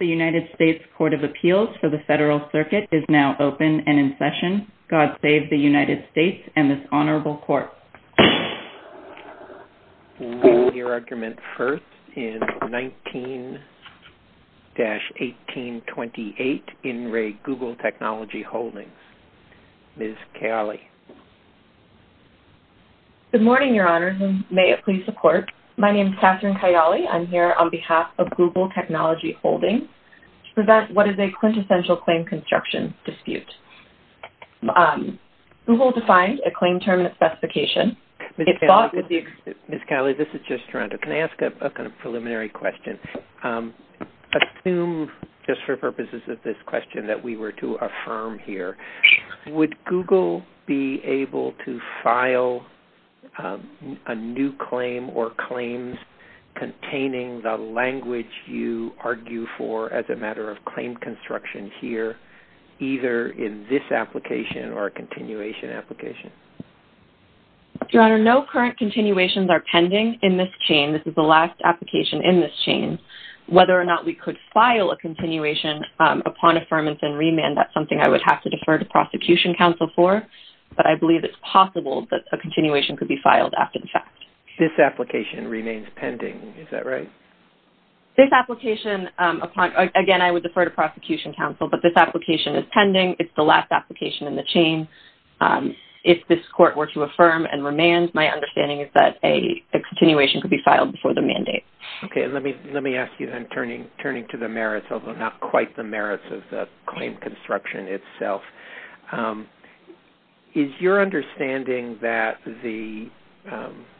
The United States Court of Appeals for the Federal Circuit is now open and in session. God save the United States and this honorable court. We will hear argument first in 19-1828 in Re Google Technology Holdings. Ms. Cagli. Good morning, Your Honors, and may it please the court. My name is Catherine Cagli. I'm here on behalf of Google Technology Holdings to present what is a quintessential claim construction dispute. Google defined a claim terminate specification. Ms. Cagli, this is just Toronto. Can I ask a preliminary question? Assume, just for purposes of this question, that we were to affirm here. Would Google be able to file a new claim or claims containing the language you argue for as a matter of claim construction here either in this application or a continuation application? Your Honor, no current continuations are pending in this chain. This is the last application in this chain. Whether or not we could file a continuation upon affirmation and remand, that's something I would have to defer to prosecution counsel for. But I believe it's possible that a continuation could be filed after the fact. This application remains pending, is that right? This application, again, I would defer to prosecution counsel, but this application is pending. It's the last application in the chain. If this court were to affirm and remand, my understanding is that a continuation could be filed before the mandate. Okay, let me ask you then, turning to the merits, although not quite the merits of the claim construction itself. Is your understanding that the,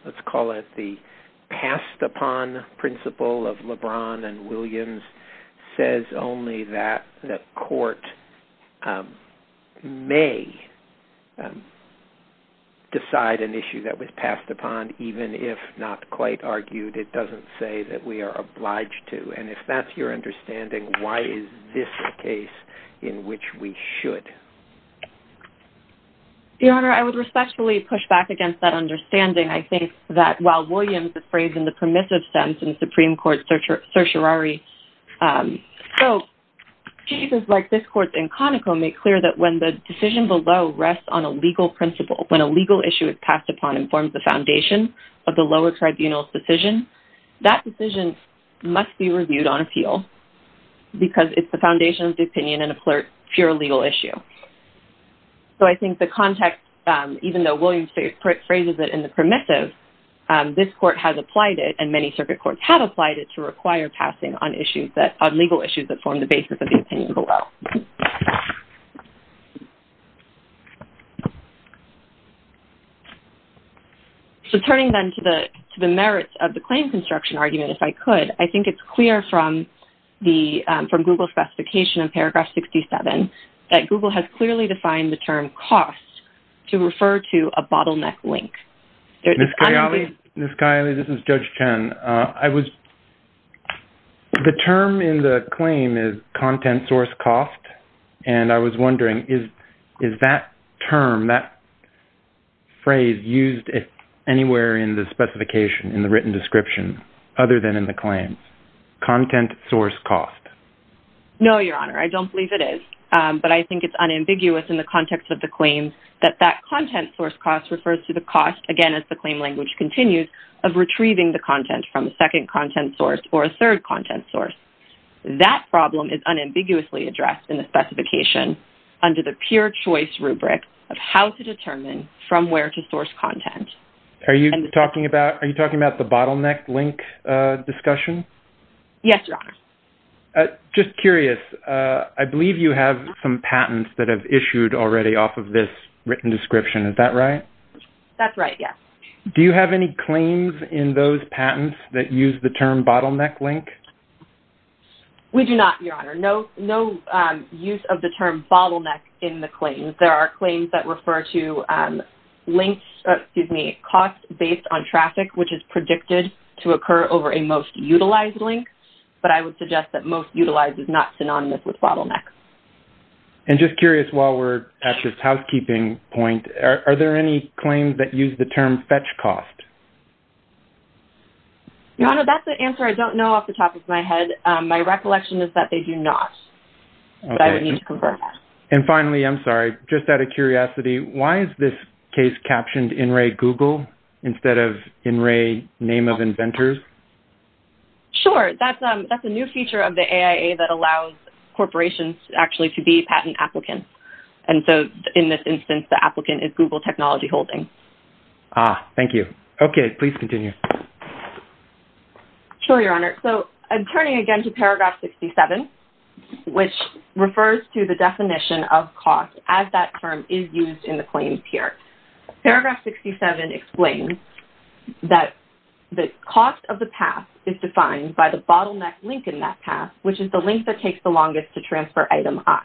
let's call it the passed upon principle of LeBron and Williams says only that the court may decide an issue that was passed upon, even if not quite argued? It doesn't say that we are obliged to. And if that's your understanding, why is this a case in which we should? Your Honor, I would respectfully push back against that understanding. I think that while Williams' phrase in the permissive sense in Supreme Court certiorari, so cases like this court in Conoco make clear that when the decision below rests on a legal principle, when a legal issue is passed upon and forms the foundation of the lower tribunal's decision, that decision must be reviewed on appeal because it's the foundation of the opinion and a pure legal issue. So I think the context, even though Williams phrases it in the permissive, this court has applied it, and many circuit courts have applied it to require passing on legal issues that form the basis of the opinion below. So turning then to the merits of the claim construction argument, if I could, I think it's clear from Google specification in paragraph 67 that Google has clearly defined the term cost to refer to a bottleneck link. Ms. Kiley, this is Judge Chen. The term in the claim is content source cost, and I was wondering, is that term, that phrase used anywhere in the specification, in the written description, other than in the claim? Content source cost. No, Your Honor, I don't believe it is. But I think it's unambiguous in the context of the claim that that content source cost refers to the cost, again, as the claim language continues, of retrieving the content from a second content source or a third content source. That problem is unambiguously addressed in the specification under the pure choice rubric of how to determine from where to source content. Are you talking about the bottleneck link discussion? Yes, Your Honor. Just curious, I believe you have some patents that have issued already off of this written description. Is that right? That's right, yes. Do you have any claims in those patents that use the term bottleneck link? We do not, Your Honor. No use of the term bottleneck in the claims. There are claims that refer to costs based on traffic, which is predicted to occur over a most utilized link. But I would suggest that most utilized is not synonymous with bottleneck. And just curious, while we're at this housekeeping point, are there any claims that use the term fetch cost? Your Honor, that's an answer I don't know off the top of my head. My recollection is that they do not. But I would need to confirm that. And finally, I'm sorry, just out of curiosity, why is this case captioned In Re Google instead of In Re Name of Inventors? Sure, that's a new feature of the AIA that allows corporations actually to be patent applicants. And so in this instance, the applicant is Google Technology Holding. Ah, thank you. Okay, please continue. Sure, Your Honor. So I'm turning again to paragraph 67, which refers to the definition of cost as that term is used in the claims here. Paragraph 67 explains that the cost of the path is defined by the bottleneck link in that path, which is the link that takes the longest to transfer item I.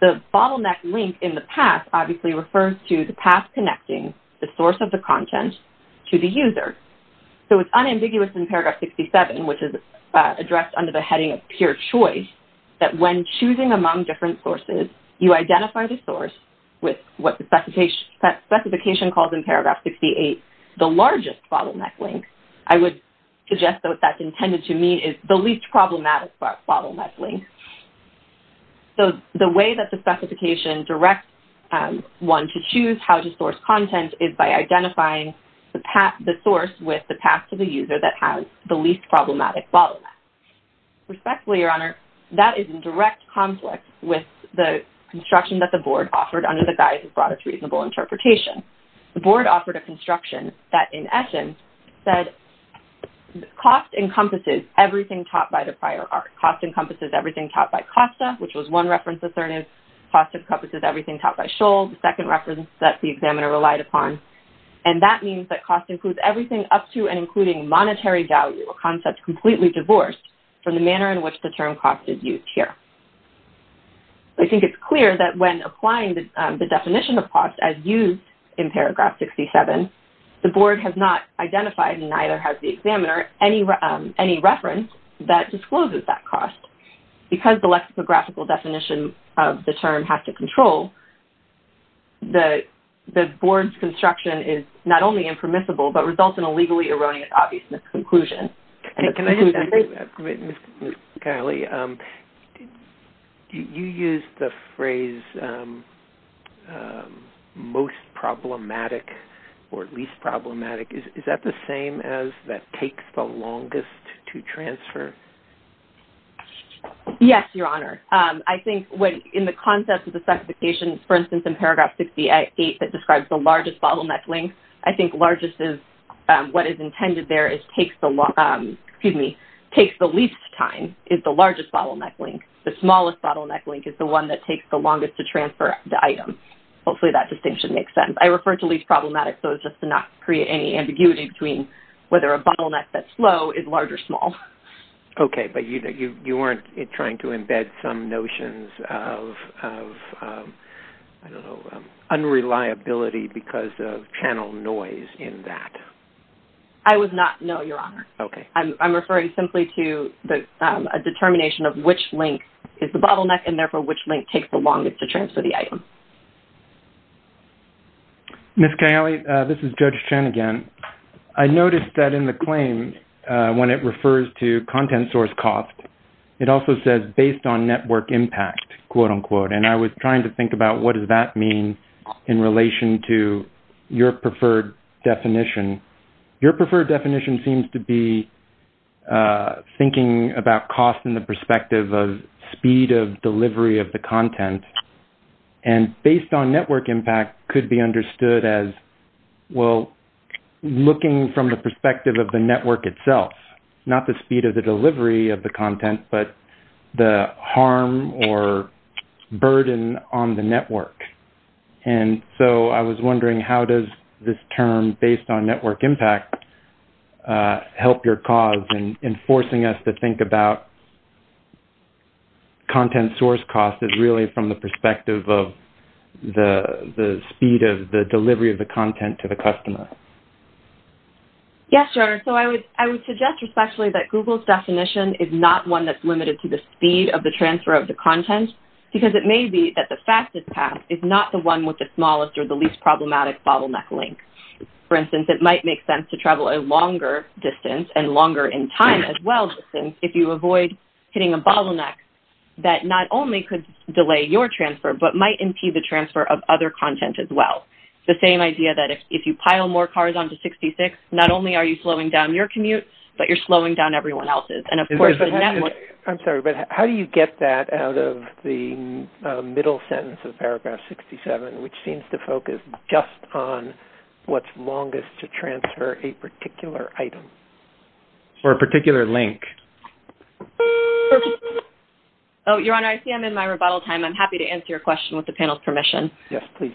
The bottleneck link in the path obviously refers to the path connecting the source of the content to the user. So it's unambiguous in paragraph 67, which is addressed under the heading of pure choice, that when choosing among different sources, you identify the source with what the specification calls in paragraph 68, the largest bottleneck link. I would suggest that what that's intended to mean is the least problematic bottleneck link. So the way that the specification directs one to choose how to source content is by identifying the source with the path to the user that has the least problematic bottleneck. Respectfully, Your Honor, that is in direct conflict with the construction that the board offered under the guise of broadest reasonable interpretation. The board offered a construction that in essence said cost encompasses everything taught by the prior art. Cost encompasses everything taught by Costa, which was one reference alternative. Cost encompasses everything taught by Scholl, the second reference that the examiner relied upon. And that means that cost includes everything up to and including monetary value, a concept completely divorced from the manner in which the term cost is used here. I think it's clear that when applying the definition of cost as used in paragraph 67, the board has not identified, and neither has the examiner, any reference that discloses that cost. Because the lexicographical definition of the term has to control, the board's construction is not only impermissible, but results in a legally erroneous obvious misconclusion. Can I just add to that, Ms. Caley? You used the phrase most problematic or least problematic. Is that the same as that takes the longest to transfer? Yes, Your Honor. I think in the concept of the specification, for instance, in paragraph 68 that describes the largest bottleneck length, I think largest is what is intended there is takes the least time is the largest bottleneck length. The smallest bottleneck length is the one that takes the longest to transfer the item. Hopefully that distinction makes sense. I refer to least problematic so as just to not create any ambiguity between whether a bottleneck that's low is large or small. Okay, but you weren't trying to embed some notions of, I don't know, unreliability because of channel noise in that. I would not, no, Your Honor. Okay. I'm referring simply to a determination of which length is the bottleneck and therefore which length takes the longest to transfer the item. Ms. Caley, this is Judge Chen again. I noticed that in the claim when it refers to content source cost, it also says based on network impact, quote, unquote, and I was trying to think about what does that mean in relation to your preferred definition. Your preferred definition seems to be thinking about cost in the perspective of speed of delivery of the content and based on network impact could be understood as, well, looking from the perspective of the network itself, not the speed of the delivery of the content but the harm or burden on the network, and so I was wondering how does this term based on network impact help your cause in forcing us to think about content source cost as really from the perspective of the speed of the delivery of the content to the customer? Yes, Your Honor. So I would suggest especially that Google's definition is not one that's limited to the speed of the transfer of the content because it may be that the fastest path is not the one with the smallest or the least problematic bottleneck length. For instance, it might make sense to travel a longer distance and longer in time as well if you avoid hitting a bottleneck that not only could delay your transfer but might impede the transfer of other content as well. The same idea that if you pile more cars onto 66, not only are you slowing down your commute, but you're slowing down everyone else's, and of course the network. I'm sorry, but how do you get that out of the middle sentence of paragraph 67, which seems to focus just on what's longest to transfer a particular item? Or a particular link. Oh, Your Honor, I see I'm in my rebuttal time. I'm happy to answer your question with the panel's permission. Yes, please.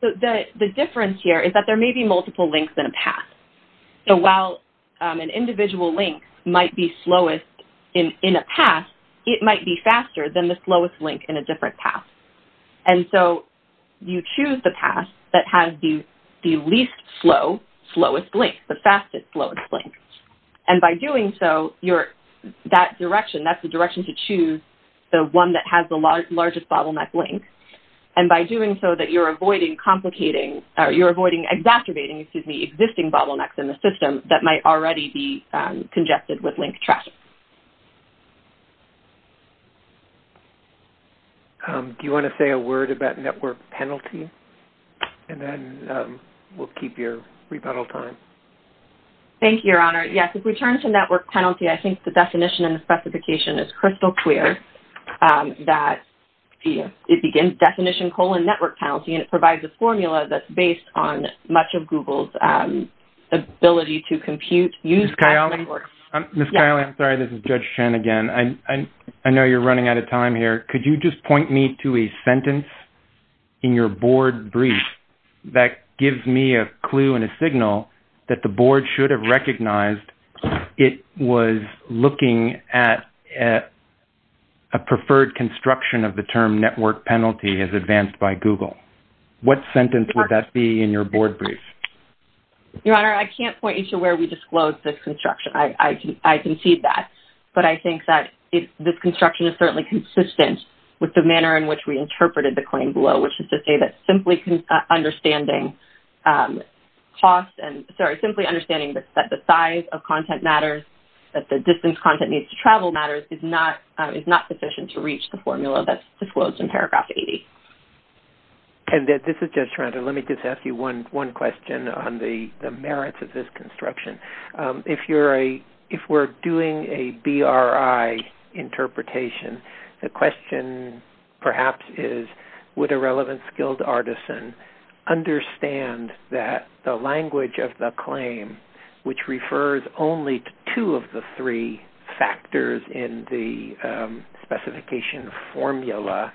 So the difference here is that there may be multiple links in a path. So while an individual link might be slowest in a path, it might be faster than the slowest link in a different path. And so you choose the path that has the least slow, slowest link, the fastest, slowest link. And by doing so, that's the direction to choose the one that has the largest bottleneck link. And by doing so, you're avoiding exacerbating the existing bottlenecks in the system that might already be congested with link traffic. Do you want to say a word about network penalty? And then we'll keep your rebuttal time. Thank you, Your Honor. Yes, if we turn to network penalty, I think the definition and the specification is crystal clear. That it begins definition, colon, network penalty. And it provides a formula that's based on much of Google's ability to compute, use network. Ms. Kiley, I'm sorry, this is Judge Chen again. I know you're running out of time here. Could you just point me to a sentence in your board brief that gives me a clue and a signal that the board should have recognized it was looking at a preferred construction of the term network penalty as advanced by Google? What sentence would that be in your board brief? Your Honor, I can't point you to where we disclosed the construction. I can see that. But I think that this construction is certainly consistent with the manner in which we interpreted the claim below, which is to say that simply understanding that the size of content matters, that the distance content needs to travel matters, is not sufficient to reach the formula that's disclosed in paragraph 80. And this is Judge Toronto. Let me just ask you one question on the merits of this construction. If we're doing a BRI interpretation, the question perhaps is, would a relevant skilled artisan understand that the language of the claim, which refers only to two of the three factors in the specification formula,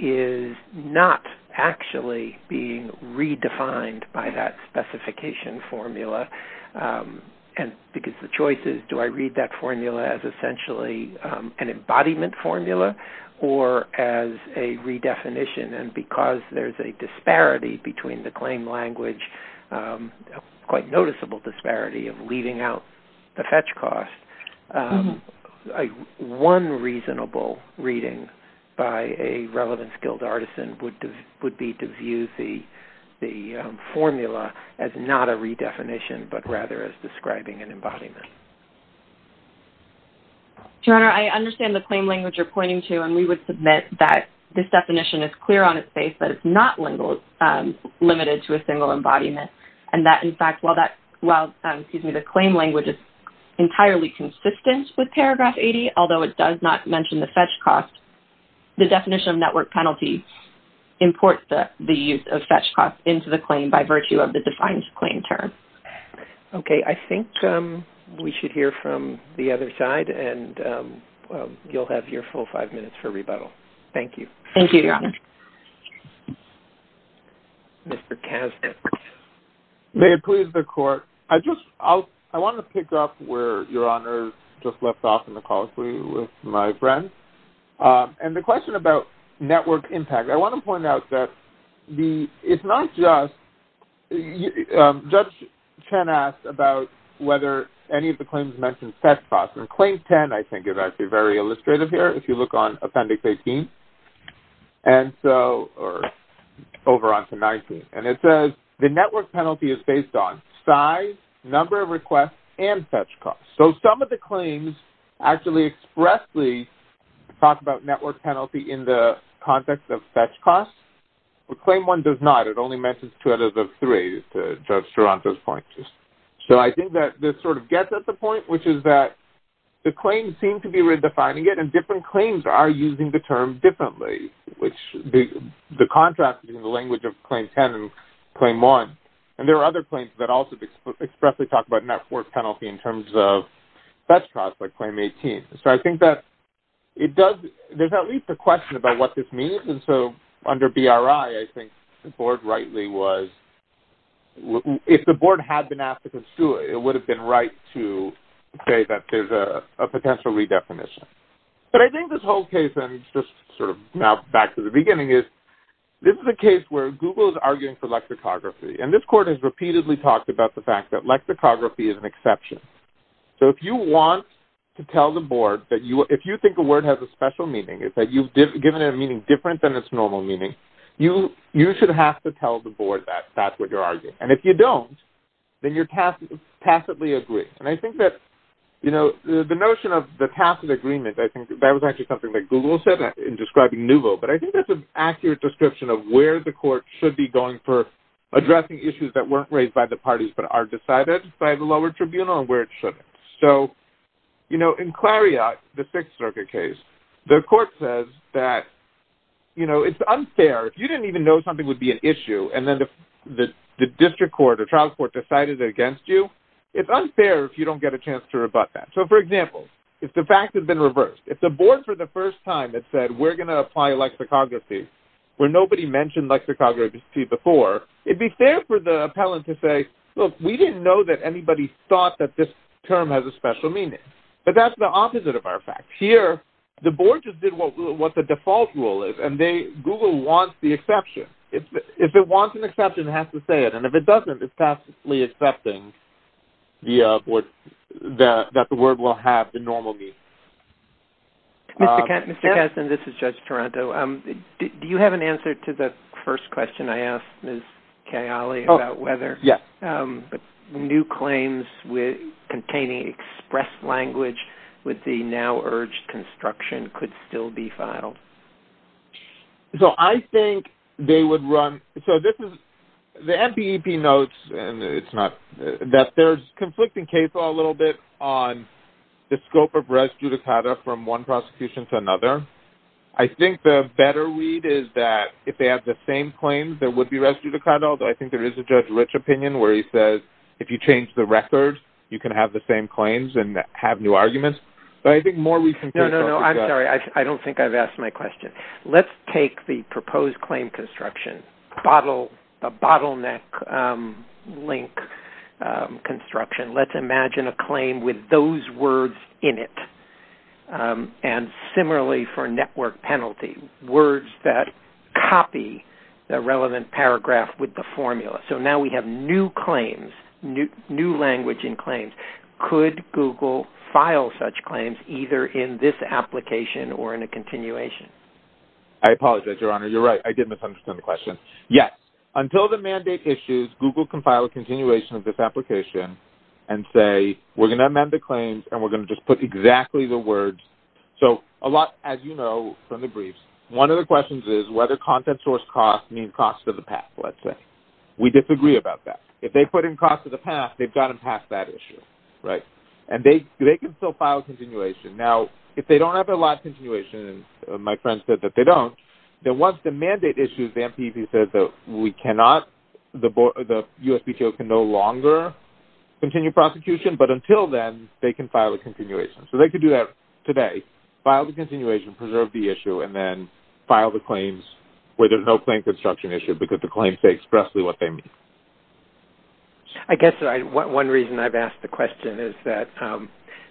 is not actually being redefined by that specification formula? And because of the choices, do I read that formula as essentially an embodiment formula or as a redefinition? And because there's a disparity between the claim language, a quite noticeable disparity of leaving out the fetch cost, one reasonable reading by a relevant skilled artisan would be to view the formula as not a redefinition, but rather as describing an embodiment. Your Honor, I understand the claim language you're pointing to, and we would submit that this definition is clear on its face, but it's not limited to a single embodiment, and that, in fact, while the claim language is entirely consistent with paragraph 80, although it does not mention the fetch cost, the definition of network penalty imports the use of fetch cost into the claim by virtue of the defined claim term. Okay. I think we should hear from the other side, and you'll have your full five minutes for rebuttal. Thank you. Thank you, Your Honor. Mr. Kasnick. May it please the Court. I want to pick up where Your Honor just left off in the call for you with my friend, and the question about network impact. I want to point out that it's not just – Judge Chen asked about whether any of the claims mentioned fetch cost, and Claim 10 I think is actually very illustrative here if you look on Appendix 18, and so – or over onto 19. And it says the network penalty is based on size, number of requests, and fetch cost. So some of the claims actually expressly talk about network penalty in the context of fetch cost. But Claim 1 does not. It only mentions two out of the three, Judge Duranto's point. So I think that this sort of gets at the point, which is that the claims seem to be redefining it, and different claims are using the term differently, which the contrast between the language of Claim 10 and Claim 1. And there are other claims that also expressly talk about network penalty in terms of fetch cost like Claim 18. So I think that it does – there's at least a question about what this means, and so under BRI I think the Board rightly was – if the Board had been asked to do it, it would have been right to say that there's a potential redefinition. But I think this whole case, and just sort of now back to the beginning, is this is a case where Google is arguing for lexicography, and this court has repeatedly talked about the fact that lexicography is an exception. So if you want to tell the Board that you – if you think a word has a special meaning, that you've given it a meaning different than its normal meaning, and if you don't, then you tacitly agree. And I think that the notion of the tacit agreement, I think that was actually something that Google said in describing Nouveau, but I think that's an accurate description of where the court should be going for addressing issues that weren't raised by the parties but are decided by the lower tribunal and where it shouldn't. So in Clariat, the Sixth Circuit case, the court says that it's unfair. If you didn't even know something would be an issue, and then the district court or trial court decided it against you, it's unfair if you don't get a chance to rebut that. So for example, if the fact had been reversed, if the Board for the first time had said we're going to apply lexicography where nobody mentioned lexicography before, it'd be fair for the appellant to say, look, we didn't know that anybody thought that this term has a special meaning. But that's the opposite of our fact. Here, the Board just did what the default rule is, and Google wants the exception. If it wants an exception, it has to say it. And if it doesn't, it's passively accepting that the word will have the normal meaning. Mr. Kessin, this is Judge Taranto. Do you have an answer to the first question I asked Ms. Kayali about whether new claims containing express language with the now-urged construction could still be filed? So I think they would run – so this is – the MPEP notes, and it's not – that there's conflicting case law a little bit on the scope of res judicata from one prosecution to another. I think the better read is that if they have the same claims, there would be res judicata, but I think there is a Judge Rich opinion where he says if you change the record, you can have the same claims and have new arguments. But I think more we can figure out. No, no, no, I'm sorry. I don't think I've asked my question. Let's take the proposed claim construction, a bottleneck link construction. Let's imagine a claim with those words in it. And similarly for network penalty, words that copy the relevant paragraph with the formula. So now we have new claims, new language in claims. Could Google file such claims either in this application or in a continuation? I apologize, Your Honor. You're right. I did misunderstand the question. Yes. Until the mandate issues, Google can file a continuation of this application and say, we're going to amend the claims and we're going to just put exactly the words. So a lot, as you know from the briefs, one of the questions is whether content source cost means cost of the path, let's say. We disagree about that. If they put in cost of the path, they've got to pass that issue, right? And they can still file a continuation. Now, if they don't have a live continuation, and my friend said that they don't, then once the mandate issues, the MPP says that we cannot, the USPTO can no longer continue prosecution. But until then, they can file a continuation. So they could do that today, file the continuation, preserve the issue, and then file the claims where there's no claim construction issue because the claims say expressly what they mean. I guess one reason I've asked the question is that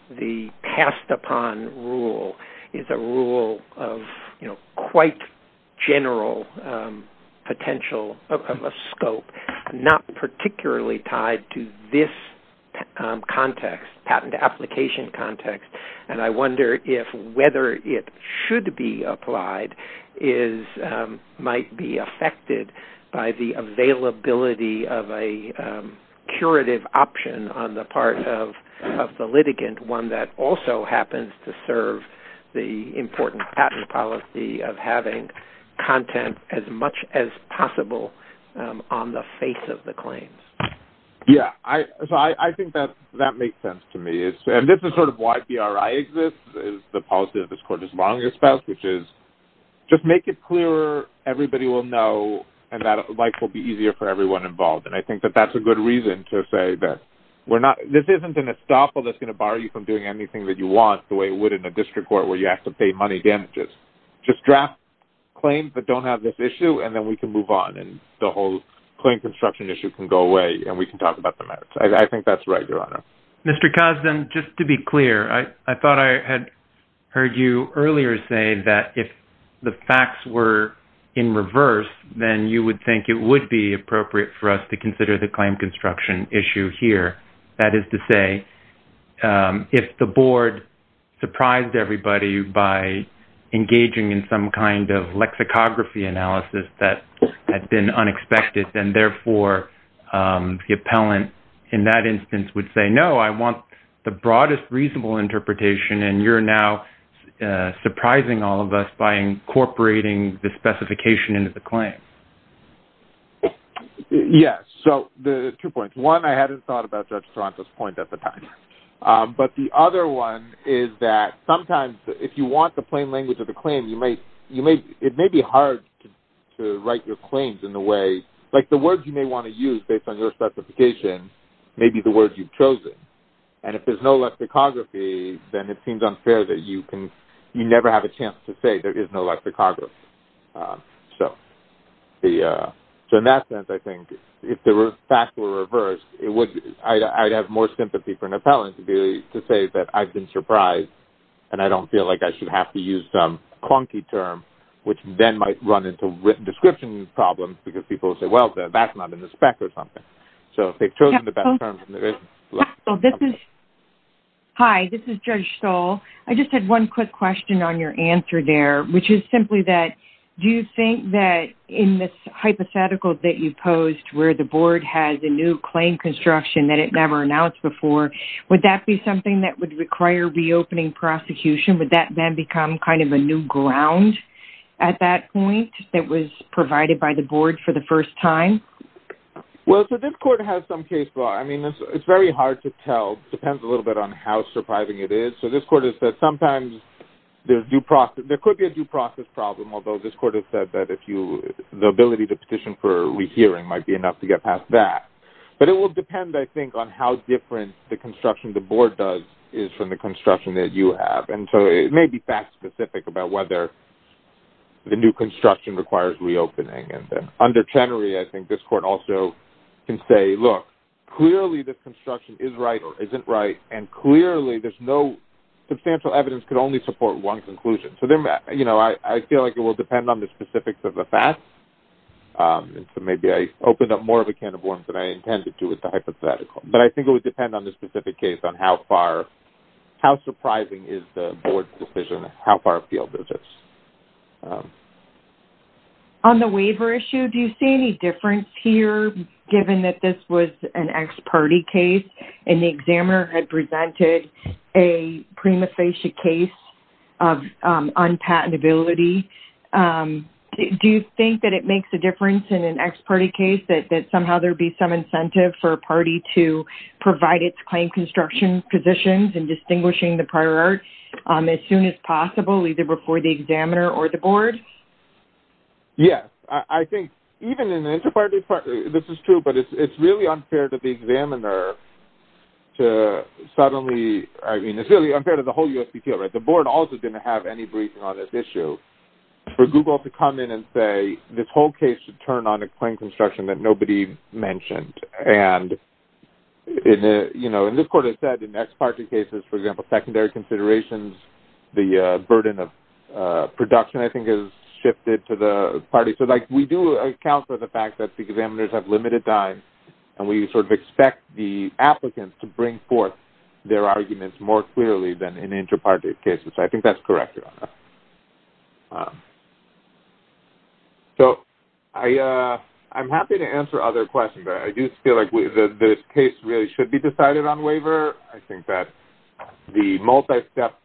the passed upon rule is a rule of, you know, quite general potential of a scope, not particularly tied to this context, patent application context. And I wonder if whether it should be applied might be affected by the availability of a curative option on the part of the litigant, one that also happens to serve the important patent policy of having content as much as possible on the face of the claims. Yeah. So I think that that makes sense to me. And this is sort of why BRI exists is the policy of this Court as long as spouse, which is just make it clearer, everybody will know, and that life will be easier for everyone involved. And I think that that's a good reason to say that we're not, this isn't an estoppel that's going to bar you from doing anything that you want the way it would in a district court where you have to pay money damages. Just draft claims that don't have this issue and then we can move on and the whole claim construction issue can go away and we can talk about the merits. I think that's right, Your Honor. Mr. Cosden, just to be clear, I thought I had heard you earlier say that if the facts were in reverse, then you would think it would be appropriate for us to consider the claim construction issue here. That is to say, if the board surprised everybody by engaging in some kind of lexicography analysis that had been unexpected and therefore the appellant in that instance would say, no, I want the broadest reasonable interpretation, and you're now surprising all of us by incorporating the specification into the claim. Yes. So two points. One, I hadn't thought about Judge Toronto's point at the time. But the other one is that sometimes if you want the plain language of the claim, it may be hard to write your claims in the way, like the words you may want to use based on your specification may be the words you've chosen. And if there's no lexicography, then it seems unfair that you can, you never have a chance to say there is no lexicography. So in that sense, I think, if the facts were reversed, I'd have more sympathy for an appellant to say that I've been surprised and I don't feel like I should have to use some clunky term, which then might run into description problems because people will say, well, that's not in the spec or something. So if they've chosen the best terms. Hi, this is Judge Stoll. I just had one quick question on your answer there, which is simply that do you think that in this hypothetical that you posed where the board has a new claim construction that it never announced before, would that be something that would require reopening prosecution? Would that then become kind of a new ground at that point that was provided by the board for the first time? Well, so this court has some case law. I mean, it's very hard to tell. It depends a little bit on how surprising it is. So this court has said sometimes there could be a due process problem, although this court has said that the ability to petition for rehearing might be enough to get past that. But it will depend, I think, on how different the construction the board does is from the construction that you have. And so it may be fact specific about whether the new construction requires reopening. Under Chenery, I think this court also can say, look, clearly this construction is right or isn't right, and clearly there's no substantial evidence could only support one conclusion. So I feel like it will depend on the specifics of the facts. So maybe I opened up more of a can of worms than I intended to with the hypothetical. But I think it would depend on the specific case on how surprising is the board's decision, how far afield this is. On the waiver issue, do you see any difference here given that this was an ex-party case and the examiner had presented a prima facie case of unpatentability? Do you think that it makes a difference in an ex-party case that somehow there'd be some incentive for a party to provide its claim construction positions and distinguishing the prior art as soon as possible, either before the examiner or the board? Yes. I think even in an inter-party, this is true, but it's really unfair to the examiner to suddenly, I mean, it's really unfair to the whole USPTO, right? The board also didn't have any briefing on this issue. For Google to come in and say this whole case should turn on a claim construction that nobody mentioned. And in this court it said in ex-party cases, for example, secondary considerations, the burden of production, I think is shifted to the party. So we do account for the fact that the examiners have limited time and we sort of expect the applicants to bring forth their arguments more clearly than in inter-party cases. So I think that's correct, Your Honor. So I'm happy to answer other questions, but I do feel like this case really should be decided on waiver. I think that the multi-step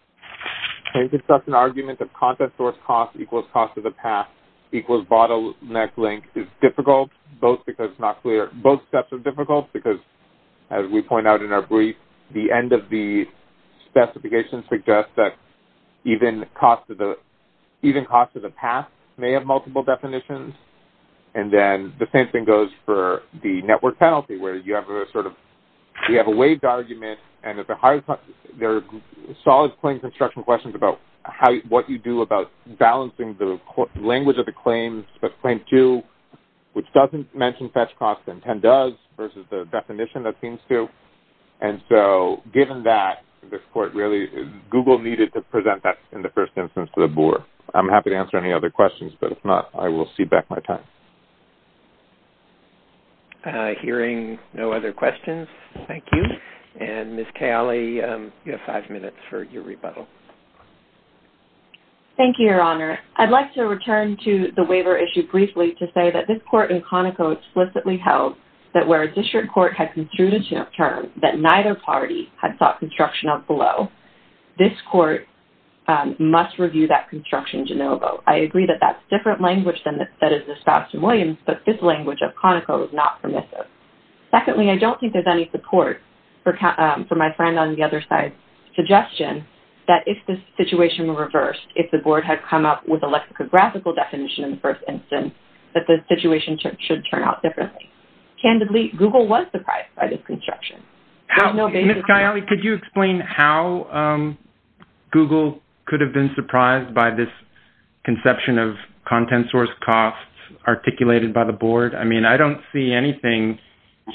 claim construction argument of content source cost equals cost of the path equals bottleneck link is difficult, both because it's not clear. Both steps are difficult because, as we point out in our brief, the end of the specification suggests that even cost of the path may have multiple definitions. And then the same thing goes for the network penalty, where you have a sort of, you have a waived argument, and at the highest cost, there are solid claim construction questions about what you do about balancing the language of the claims, but claim two, which doesn't mention fetch costs, and 10 does versus the definition that seems to. And so given that, this court really, Google needed to present that in the first instance to the board. I'm happy to answer any other questions, but if not, I will cede back my time. Hearing no other questions, thank you. And Ms. Cagli, you have five minutes for your rebuttal. Thank you, Your Honor. I'd like to return to the waiver issue briefly to say that this court in Conoco explicitly held that where a district court had construed a term that neither party had sought construction of below, this court must review that construction de novo. I agree that that's different language than that is espoused in Williams, but this language of Conoco is not permissive. Secondly, I don't think there's any support for my friend on the other side's suggestion that if the situation were reversed, if the board had come up with a lexicographical definition in the first instance, that the situation should turn out differently. Candidly, Google was surprised by this construction. Ms. Cagli, could you explain how Google could have been surprised by this conception of content source costs articulated by the board? I mean, I don't see anything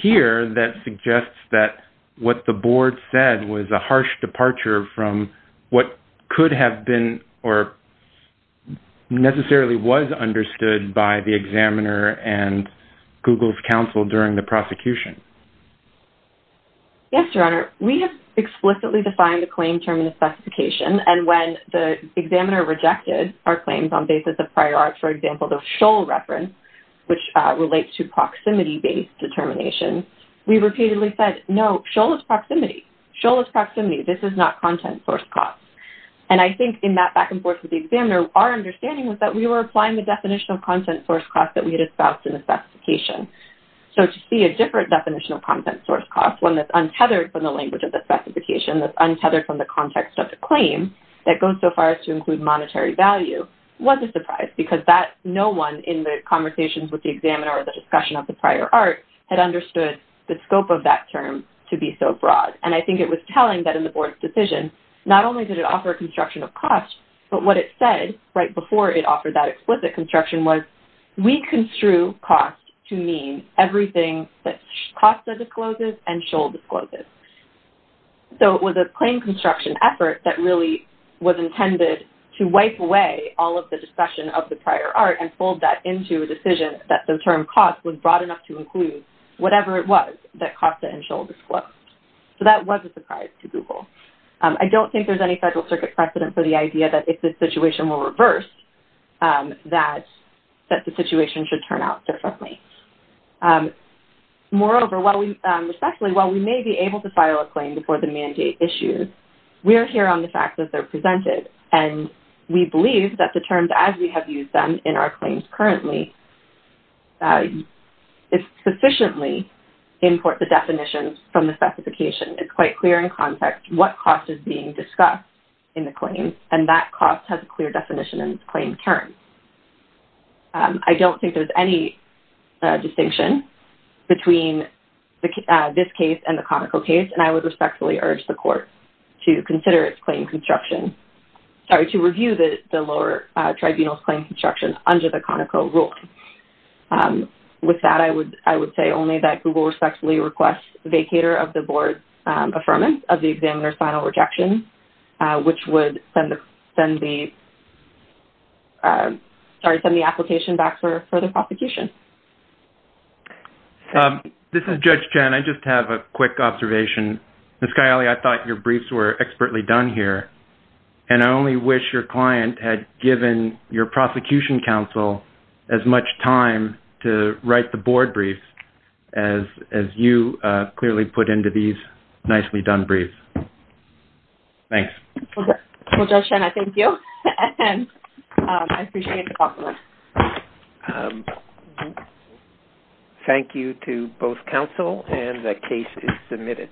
here that suggests that what the board said was a harsh departure from what could have been or necessarily was understood by the examiner and Google's counsel during the prosecution. Yes, Your Honor. We have explicitly defined the claim term in the specification, and when the examiner rejected our claims on basis of prior art, for example, the Shoal reference, which relates to proximity-based determination, we repeatedly said, no, Shoal is proximity. Shoal is proximity. This is not content source cost. And I think in that back and forth with the examiner, our understanding was that we were applying the definition of content source cost that we had espoused in the specification. So to see a different definition of content source cost, one that's untethered from the language of the specification, that's untethered from the context of the claim, that goes so far as to include monetary value, was a surprise, because no one in the conversations with the examiner or the discussion of the prior art had understood the scope of that term to be so broad. And I think it was telling that in the board's decision, not only did it offer construction of cost, but what it said right before it offered that explicit construction was, we construe cost to mean everything that Costa discloses and Shoal discloses. So it was a claim construction effort that really was intended to wipe away all of the discussion of the prior art and fold that into a decision that the term cost was broad enough to include whatever it was that Costa and Shoal disclosed. So that was a surprise to Google. I don't think there's any Federal Circuit precedent for the idea that if the situation were reversed, that the situation should turn out differently. Moreover, while we may be able to file a claim before the mandate issues, we are here on the fact that they're presented, and we believe that the terms as we have used them in our claims currently sufficiently import the definitions from the specification. It's quite clear in context what cost is being discussed in the claims, and that cost has a clear definition in its claim term. I don't think there's any distinction between this case and the Conoco case, and I would respectfully urge the court to consider its claim construction, sorry, to review the lower tribunal's claim construction under the Conoco rule. With that, I would say only that Google respectfully requests vacator of the board's affirmance of the examiner's final rejection, which would send the application back for further prosecution. This is Judge Chen. I just have a quick observation. Ms. Cagliari, I thought your briefs were expertly done here, and I only wish your client had given your prosecution counsel as much time to write the board briefs as you clearly put into these nicely done briefs. Thanks. Well, Judge Chen, I thank you, and I appreciate the compliment. Thank you to both counsel, and the case is submitted.